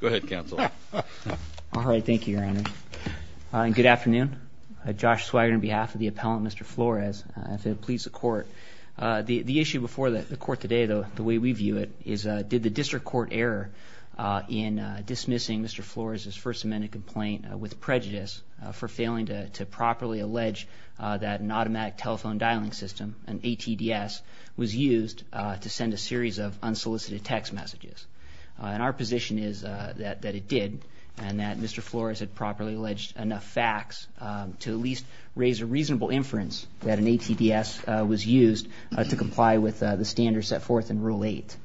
Go ahead, Counsel. All right, thank you, Your Honor. Good afternoon. Josh Swigart on behalf of the appellant, Mr. Flores. If it pleases the Court, the issue before the Court today, the way we view it, is did the district court error in dismissing Mr. Flores' First Amendment complaint with prejudice for failing to properly allege that an automatic telephone dialing system, an ATDS, was used to send a series of unsolicited text messages? And our position is that it did and that Mr. Flores had properly alleged enough facts to at least raise a reasonable inference that an ATDS was used to comply with the standards set forth in Rule 8.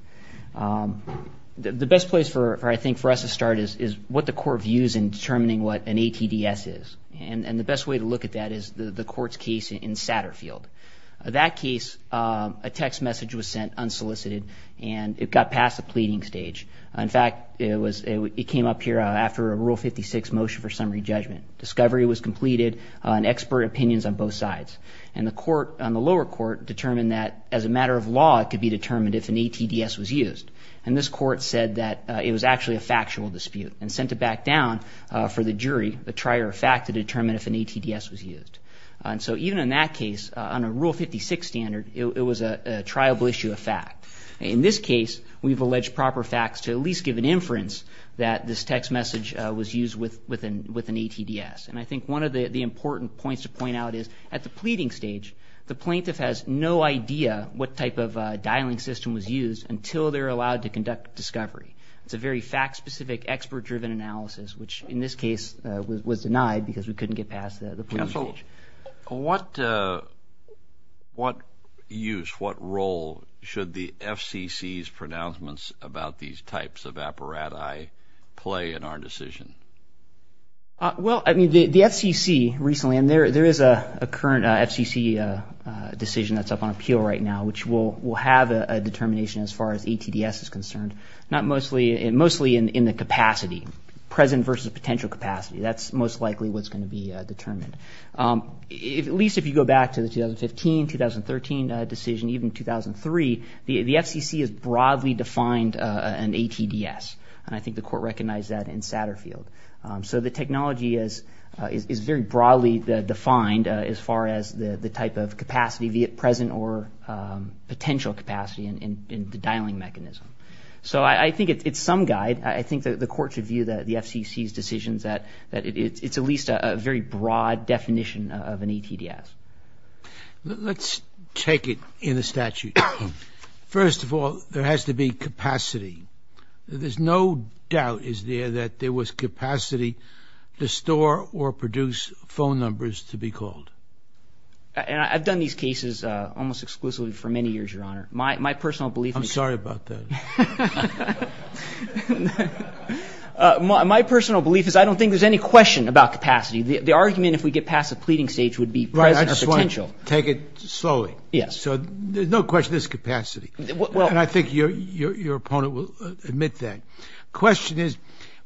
The best place, I think, for us to start is what the Court views in determining what an ATDS is. And the best way to look at that is the Court's case in Satterfield. In that case, a text message was sent unsolicited and it got past the pleading stage. In fact, it came up here after a Rule 56 motion for summary judgment. Discovery was completed and expert opinions on both sides. And the lower court determined that as a matter of law, it could be determined if an ATDS was used. And this court said that it was actually a factual dispute and sent it back down for the jury, the trier of fact, to determine if an ATDS was used. And so even in that case, on a Rule 56 standard, it was a triable issue of fact. In this case, we've alleged proper facts to at least give an inference that this text message was used with an ATDS. And I think one of the important points to point out is at the pleading stage, the plaintiff has no idea what type of dialing system was used until they're allowed to conduct discovery. It's a very fact-specific, expert-driven analysis, which in this case was denied because we couldn't get past the pleading stage. Counsel, what use, what role should the FCC's pronouncements about these types of apparati play in our decision? Well, I mean, the FCC recently, and there is a current FCC decision that's up on appeal right now, which will have a determination as far as ATDS is concerned, mostly in the capacity. Present versus potential capacity. That's most likely what's going to be determined. At least if you go back to the 2015, 2013 decision, even 2003, the FCC has broadly defined an ATDS. And I think the court recognized that in Satterfield. So the technology is very broadly defined as far as the type of capacity, be it present or potential capacity in the dialing mechanism. So I think it's some guide. I think the court should view the FCC's decisions that it's at least a very broad definition of an ATDS. Let's take it in the statute. First of all, there has to be capacity. There's no doubt, is there, that there was capacity to store or produce phone numbers to be called. And I've done these cases almost exclusively for many years, Your Honor. My personal belief is that... I'm sorry about that. My personal belief is I don't think there's any question about capacity. The argument, if we get past the pleading stage, would be present or potential. I just want to take it slowly. Yes. So there's no question there's capacity. And I think your opponent will admit that. The question is,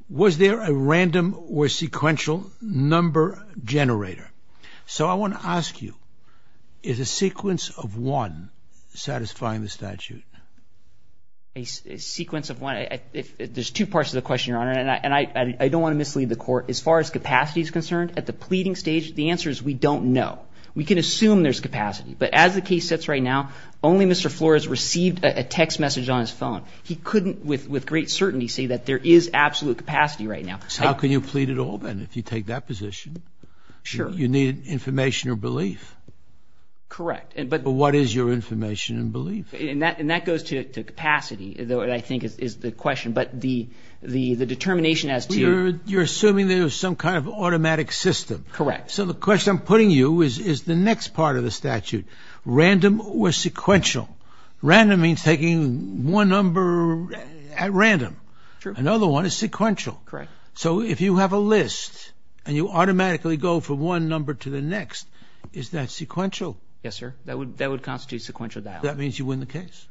was there a random or sequential number generator? So I want to ask you, is a sequence of one satisfying the statute? A sequence of one? There's two parts to the question, Your Honor. And I don't want to mislead the court. As far as capacity is concerned, at the pleading stage, the answer is we don't know. We can assume there's capacity. But as the case sits right now, only Mr. Flores received a text message on his phone. He couldn't with great certainty say that there is absolute capacity right now. So how can you plead at all, then, if you take that position? You need information or belief. Correct. But what is your information and belief? And that goes to capacity, I think, is the question. But the determination as to your ---- You're assuming there's some kind of automatic system. Correct. So the question I'm putting you is, is the next part of the statute random or sequential? Random means taking one number at random. Another one is sequential. Correct. So if you have a list and you automatically go from one number to the next, is that sequential? Yes, sir. That would constitute sequential dialogue. That means you win the case.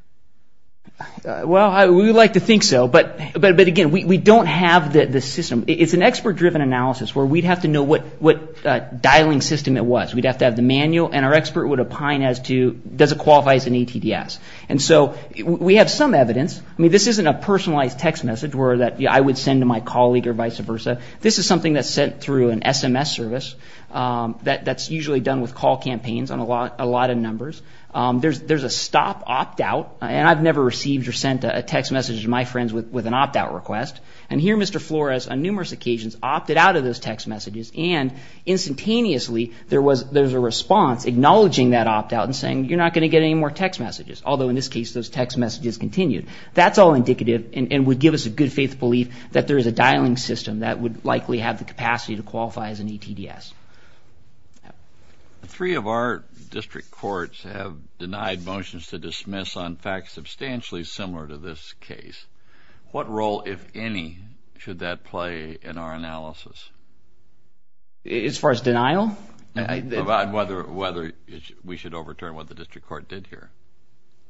Well, we would like to think so. But, again, we don't have the system. It's an expert-driven analysis where we'd have to know what dialing system it was. We'd have to have the manual, and our expert would opine as to does it qualify as an ATDS. And so we have some evidence. I mean, this isn't a personalized text message that I would send to my colleague or vice versa. This is something that's sent through an SMS service that's usually done with call campaigns on a lot of numbers. There's a stop opt-out, and I've never received or sent a text message to my friends with an opt-out request. And here Mr. Flores, on numerous occasions, opted out of those text messages, and instantaneously there was a response acknowledging that opt-out and saying, you're not going to get any more text messages, although in this case those text messages continued. That's all indicative and would give us a good faith belief that there is a dialing system that would likely have the capacity to qualify as an ATDS. Three of our district courts have denied motions to dismiss on facts substantially similar to this case. What role, if any, should that play in our analysis? As far as denial? About whether we should overturn what the district court did here.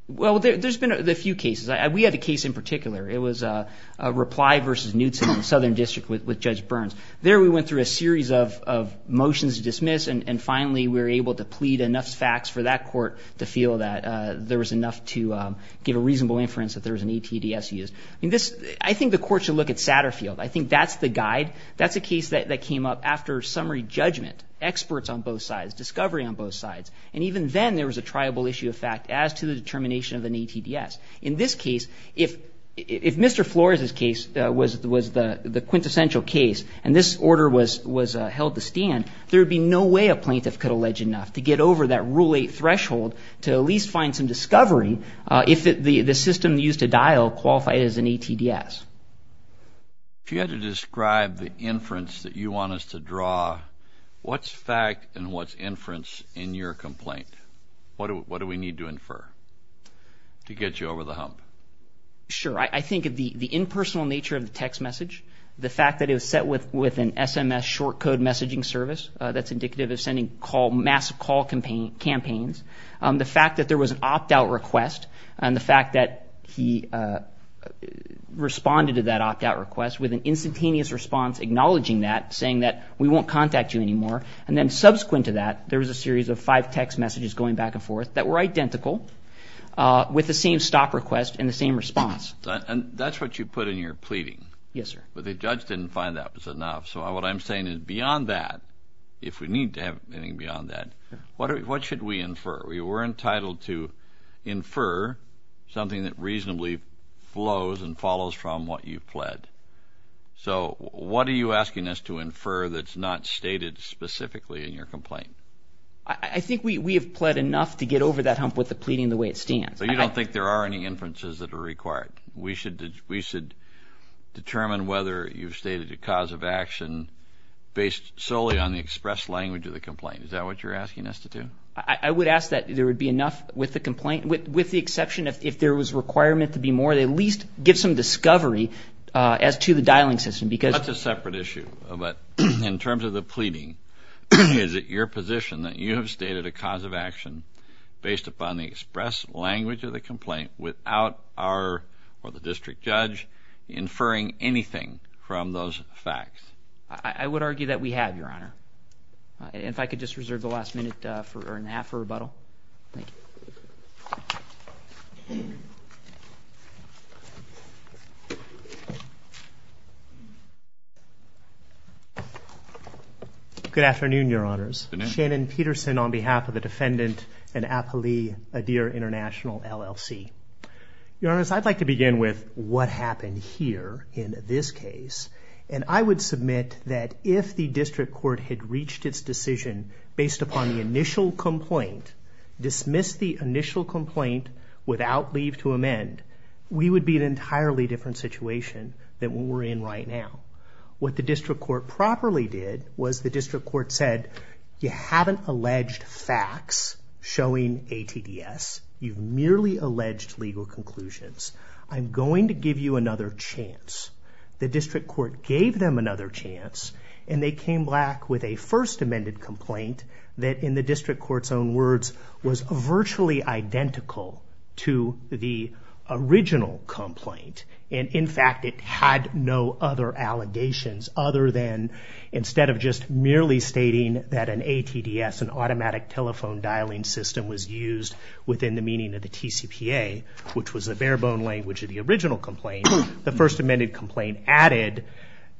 Well, there's been a few cases. We had a case in particular. It was a reply versus Knutson in the Southern District with Judge Burns. There we went through a series of motions to dismiss, and finally we were able to plead enough facts for that court to feel that there was enough to give a reasonable inference that there was an ATDS used. I think the court should look at Satterfield. I think that's the guide. That's a case that came up after summary judgment, experts on both sides, discovery on both sides. And even then there was a triable issue of fact as to the determination of an ATDS. In this case, if Mr. Flores' case was the quintessential case and this order was held to stand, there would be no way a plaintiff could allege enough to get over that Rule 8 threshold to at least find some discovery if the system used to dial qualified as an ATDS. If you had to describe the inference that you want us to draw, what's fact and what's inference in your complaint? What do we need to infer to get you over the hump? Sure. I think the impersonal nature of the text message, the fact that it was set with an SMS, short code messaging service that's indicative of sending massive call campaigns, the fact that there was an opt-out request and the fact that he responded to that opt-out request with an instantaneous response acknowledging that, saying that we won't contact you anymore. And then subsequent to that, there was a series of five text messages going back and forth that were identical with the same stop request and the same response. And that's what you put in your pleading? Yes, sir. But the judge didn't find that was enough. So what I'm saying is beyond that, if we need to have anything beyond that, what should we infer? We were entitled to infer something that reasonably flows and follows from what you've pled. So what are you asking us to infer that's not stated specifically in your complaint? I think we have pled enough to get over that hump with the pleading the way it stands. But you don't think there are any inferences that are required? We should determine whether you've stated a cause of action based solely on the express language of the complaint. Is that what you're asking us to do? I would ask that there would be enough with the complaint, with the exception if there was requirement to be more, to at least give some discovery as to the dialing system. That's a separate issue, but in terms of the pleading, is it your position that you have stated a cause of action based upon the express language of the complaint without our or the district judge inferring anything from those facts? I would argue that we have, Your Honor. And if I could just reserve the last minute or an hour for rebuttal. Thank you. Good afternoon, Your Honors. Good afternoon. Shannon Peterson on behalf of the Defendant in Apali Adir International, LLC. Your Honors, I'd like to begin with what happened here in this case. And I would submit that if the district court had reached its decision based upon the initial complaint, dismissed the initial complaint without leave to amend, we would be in an entirely different situation than we're in right now. What the district court properly did was the district court said, you haven't alleged facts showing ATDS. You've merely alleged legal conclusions. I'm going to give you another chance. The district court gave them another chance, and they came back with a first amended complaint that, in the district court's own words, was virtually identical to the original complaint. And, in fact, it had no other allegations other than, instead of just merely stating that an ATDS, an automatic telephone dialing system, was used within the meaning of the TCPA, which was the bare bone language of the original complaint, the first amended complaint added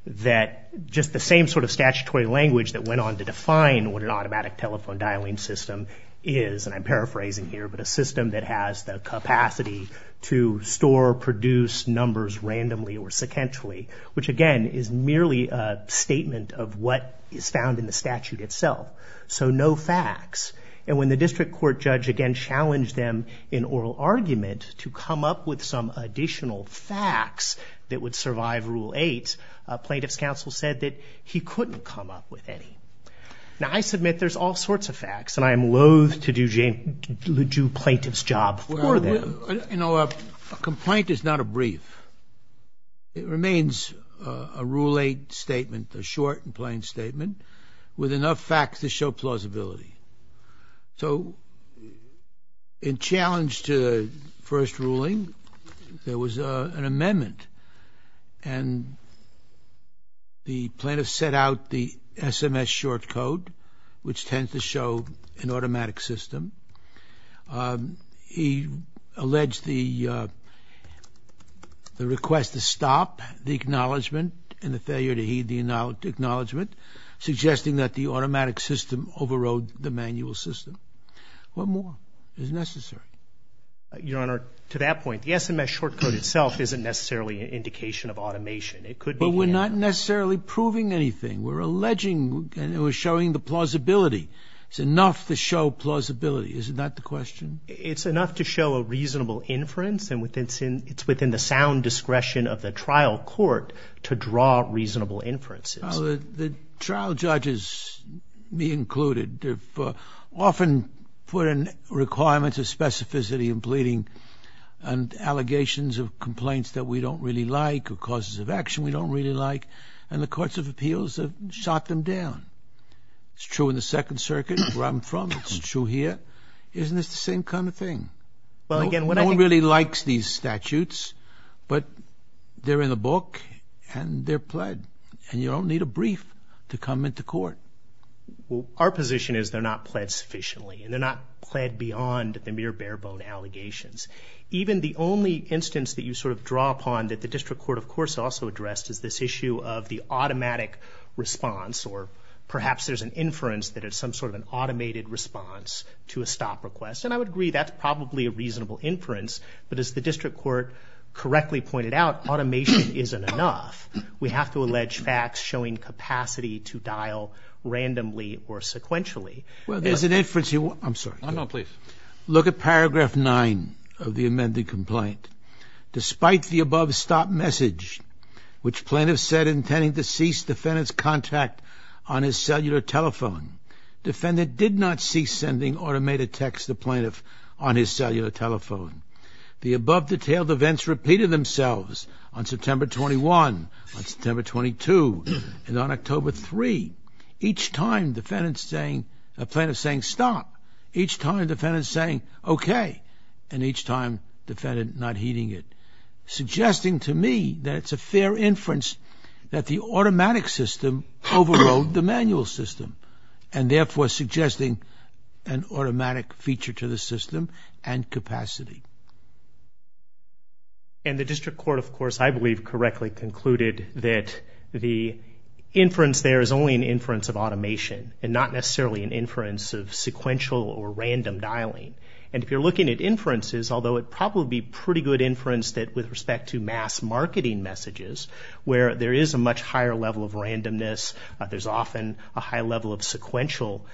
that just the same sort of statutory language that went on to define what an automatic telephone dialing system is, and I'm paraphrasing here, but a system that has the capacity to store, produce numbers randomly or sequentially, which, again, is merely a statement of what is found in the statute itself. So no facts. And when the district court judge again challenged them in oral argument to come up with some additional facts that would survive Rule 8, plaintiff's counsel said that he couldn't come up with any. Now, I submit there's all sorts of facts, and I am loath to do plaintiff's job for them. You know, a complaint is not a brief. It remains a Rule 8 statement, a short and plain statement, with enough facts to show plausibility. So in challenge to the first ruling, there was an amendment, and the plaintiff set out the SMS short code, which tends to show an automatic system. He alleged the request to stop the acknowledgement and the failure to heed the acknowledgement, suggesting that the automatic system overrode the manual system. What more is necessary? Your Honor, to that point, the SMS short code itself isn't necessarily an indication of automation. It could be. But we're not necessarily proving anything. We're alleging and we're showing the plausibility. It's enough to show plausibility. Isn't that the question? It's enough to show a reasonable inference, and it's within the sound discretion of the trial court to draw reasonable inferences. The trial judges, me included, often put in requirements of specificity in pleading and allegations of complaints that we don't really like or causes of action we don't really like, and the courts of appeals have shot them down. It's true in the Second Circuit, where I'm from. It's true here. Isn't this the same kind of thing? No one really likes these statutes, but they're in the book and they're pled. And you don't need a brief to come into court. Our position is they're not pled sufficiently and they're not pled beyond the mere bare-bone allegations. Even the only instance that you sort of draw upon that the district court of course also addressed is this issue of the automatic response or perhaps there's an inference that it's some sort of an automated response to a stop request, and I would agree that's probably a reasonable inference, but as the district court correctly pointed out, automation isn't enough. We have to allege facts showing capacity to dial randomly or sequentially. Well, there's an inference here. I'm sorry. No, no, please. Look at paragraph 9 of the amended complaint. Despite the above stop message, which plaintiff said intending to cease defendant's contact on his cellular telephone, defendant did not cease sending automated text to plaintiff on his cellular telephone. The above detailed events repeated themselves on September 21, on September 22, and on October 3. Each time plaintiff saying stop, each time defendant saying okay, and each time defendant not heeding it, suggesting to me that it's a fair inference that the automatic system overrode the manual system and therefore suggesting an automatic feature to the system and capacity. And the district court, of course, I believe correctly concluded that the inference there is only an inference of automation and not necessarily an inference of sequential or random dialing. And if you're looking at inferences, although it would probably be pretty good inference that with respect to mass marketing messages, where there is a much higher level of randomness, there's often a high level of sequential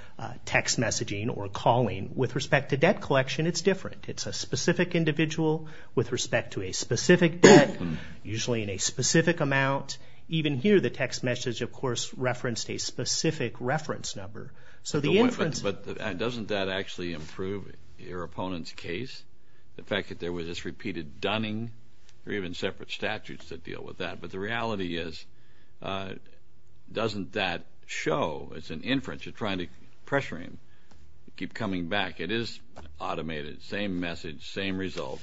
text messaging or calling. With respect to debt collection, it's different. It's a specific individual with respect to a specific debt, usually in a specific amount. Even here, the text message, of course, referenced a specific reference number. But doesn't that actually improve your opponent's case, the fact that there was this repeated dunning? There are even separate statutes that deal with that. But the reality is, doesn't that show? It's an inference. You're trying to pressure him to keep coming back. It is automated. Same message, same result.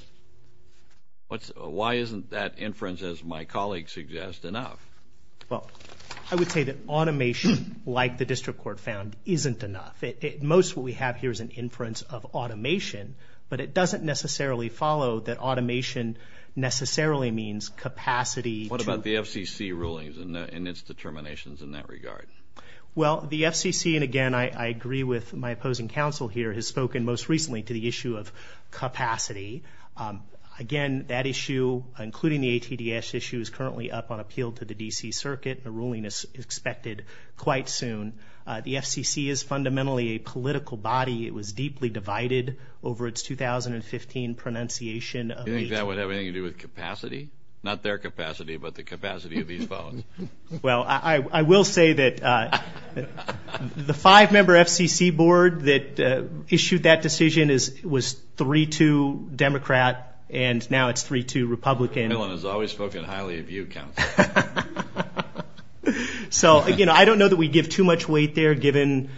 Why isn't that inference, as my colleague suggests, enough? Well, I would say that automation, like the district court found, isn't enough. Most of what we have here is an inference of automation, but it doesn't necessarily follow that automation necessarily means capacity. What about the FCC rulings and its determinations in that regard? Well, the FCC, and again, I agree with my opposing counsel here, has spoken most recently to the issue of capacity. Again, that issue, including the ATDS issue, is currently up on appeal to the D.C. Circuit. A ruling is expected quite soon. The FCC is fundamentally a political body. It was deeply divided over its 2015 pronunciation of ATDS. You think that would have anything to do with capacity? Not their capacity, but the capacity of these votes. Well, I will say that the five-member FCC board that issued that decision was 3-2 Democrat, and now it's 3-2 Republican. Bill has always spoken highly of you, counsel. So, again, I don't know that we give too much weight there, given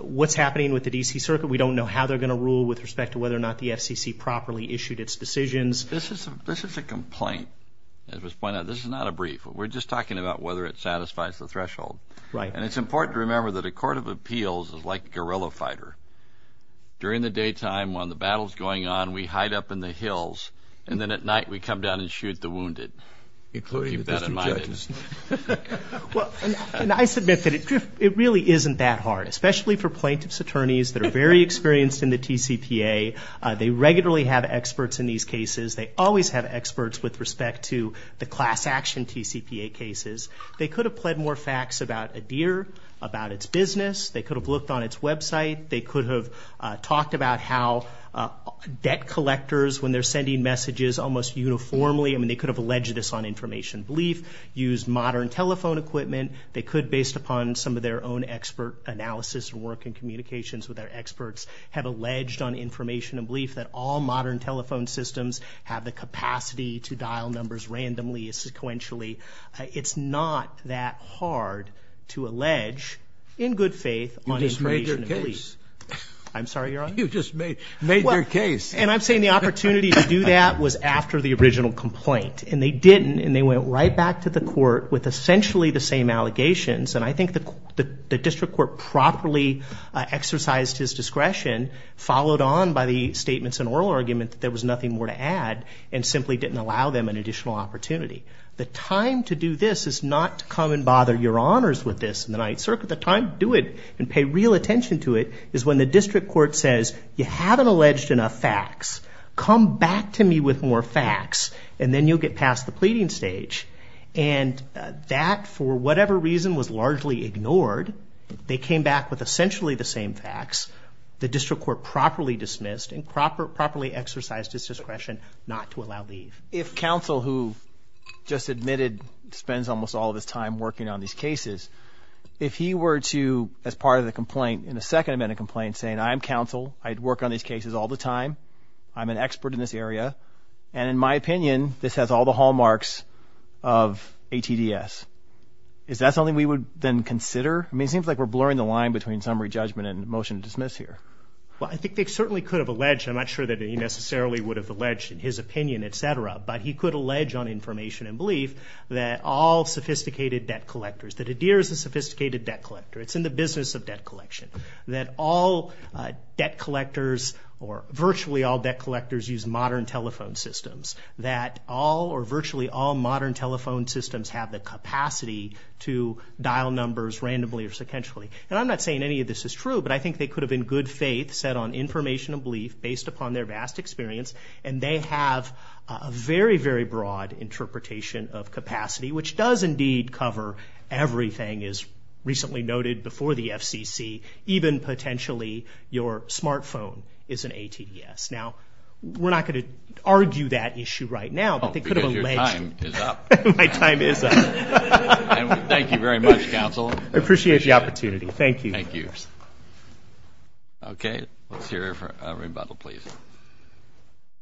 what's happening with the D.C. Circuit. We don't know how they're going to rule with respect to whether or not the FCC properly issued its decisions. This is a complaint, as was pointed out. This is not a brief. We're just talking about whether it satisfies the threshold. Right. And it's important to remember that a court of appeals is like a guerrilla fighter. During the daytime, when the battle's going on, we hide up in the hills, and then at night we come down and shoot the wounded. Keep that in mind. Including the district judges. And I submit that it really isn't that hard, especially for plaintiff's attorneys that are very experienced in the TCPA. They regularly have experts in these cases. They always have experts with respect to the class action TCPA cases. They could have pled more facts about Adir, about its business. They could have looked on its website. They could have talked about how debt collectors, when they're sending messages almost uniformly, I mean they could have alleged this on information belief, used modern telephone equipment. They could, based upon some of their own expert analysis and work in communications with their experts, have alleged on information and belief that all modern telephone systems have the capacity to dial numbers randomly and sequentially. It's not that hard to allege, in good faith, on information and belief. You just made your case. I'm sorry, Your Honor? You just made your case. And I'm saying the opportunity to do that was after the original complaint. And they didn't, and they went right back to the court with essentially the same allegations. And I think the district court properly exercised his discretion, followed on by the statements and oral argument that there was nothing more to add, and simply didn't allow them an additional opportunity. The time to do this is not to come and bother your honors with this in the Ninth Circuit. The time to do it and pay real attention to it is when the district court says, you haven't alleged enough facts. Come back to me with more facts. And then you'll get past the pleading stage. And that, for whatever reason, was largely ignored. They came back with essentially the same facts. The district court properly dismissed and properly exercised his discretion not to allow leave. If counsel, who just admitted, spends almost all of his time working on these cases, if he were to, as part of the complaint, in the second amendment complaint, say, I'm counsel. I work on these cases all the time. I'm an expert in this area. And in my opinion, this has all the hallmarks of ATDS. Is that something we would then consider? I mean, it seems like we're blurring the line between summary judgment and motion to dismiss here. Well, I think they certainly could have alleged. I'm not sure that he necessarily would have alleged in his opinion, et cetera. But he could allege on information and belief that all sophisticated debt collectors, that Adair is a sophisticated debt collector, it's in the business of debt collection, that all debt collectors or virtually all debt collectors use modern telephone systems, that all or virtually all modern telephone systems have the capacity to dial numbers randomly or sequentially. And I'm not saying any of this is true, but I think they could have, in good faith, said on information and belief, based upon their vast experience, and they have a very, very broad interpretation of capacity, which does indeed cover everything as recently noted before the FCC, even potentially your smartphone is an ATDS. Now, we're not going to argue that issue right now, but they could have alleged. Oh, because your time is up. My time is up. Thank you very much, counsel. I appreciate the opportunity. Thank you. Thank you. Okay. Let's hear a rebuttal, please.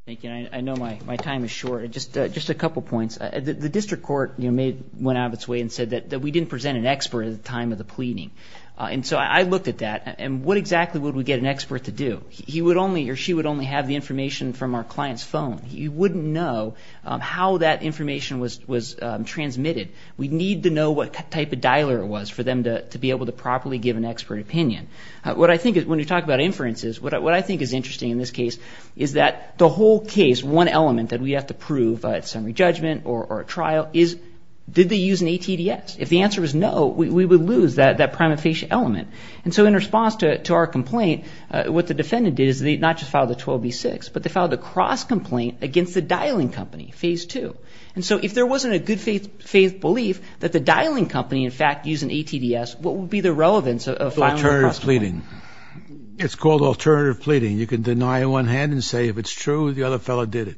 Thank you. I know my time is short. Just a couple points. The district court went out of its way and said that we didn't present an expert at the time of the pleading. And so I looked at that, and what exactly would we get an expert to do? He would only or she would only have the information from our client's phone. You wouldn't know how that information was transmitted. We'd need to know what type of dialer it was for them to be able to properly give an expert opinion. What I think, when you talk about inferences, what I think is interesting in this case is that the whole case, one element that we have to prove at summary judgment or at trial is, did they use an ATDS? If the answer is no, we would lose that prima facie element. And so in response to our complaint, what the defendant did is they not just filed a 12B6, but they filed a cross complaint against the dialing company, phase two. And so if there wasn't a good faith belief that the dialing company, in fact, used an ATDS, what would be the relevance of filing a cross complaint? Alternative pleading. It's called alternative pleading. You can deny on one hand and say, if it's true, the other fellow did it.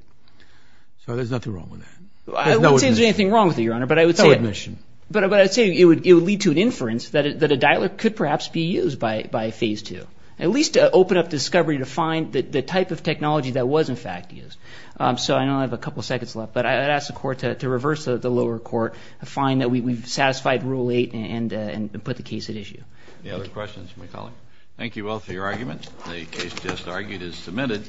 So there's nothing wrong with that. I wouldn't say there's anything wrong with it, Your Honor, but I would say it would lead to an inference that a dialer could perhaps be used by phase two, at least to open up discovery to find the type of technology that was, in fact, used. So I know I have a couple seconds left, but I'd ask the Court to reverse the lower court, find that we've satisfied rule eight and put the case at issue. Any other questions from my colleague? Thank you all for your arguments. The case just argued is submitted.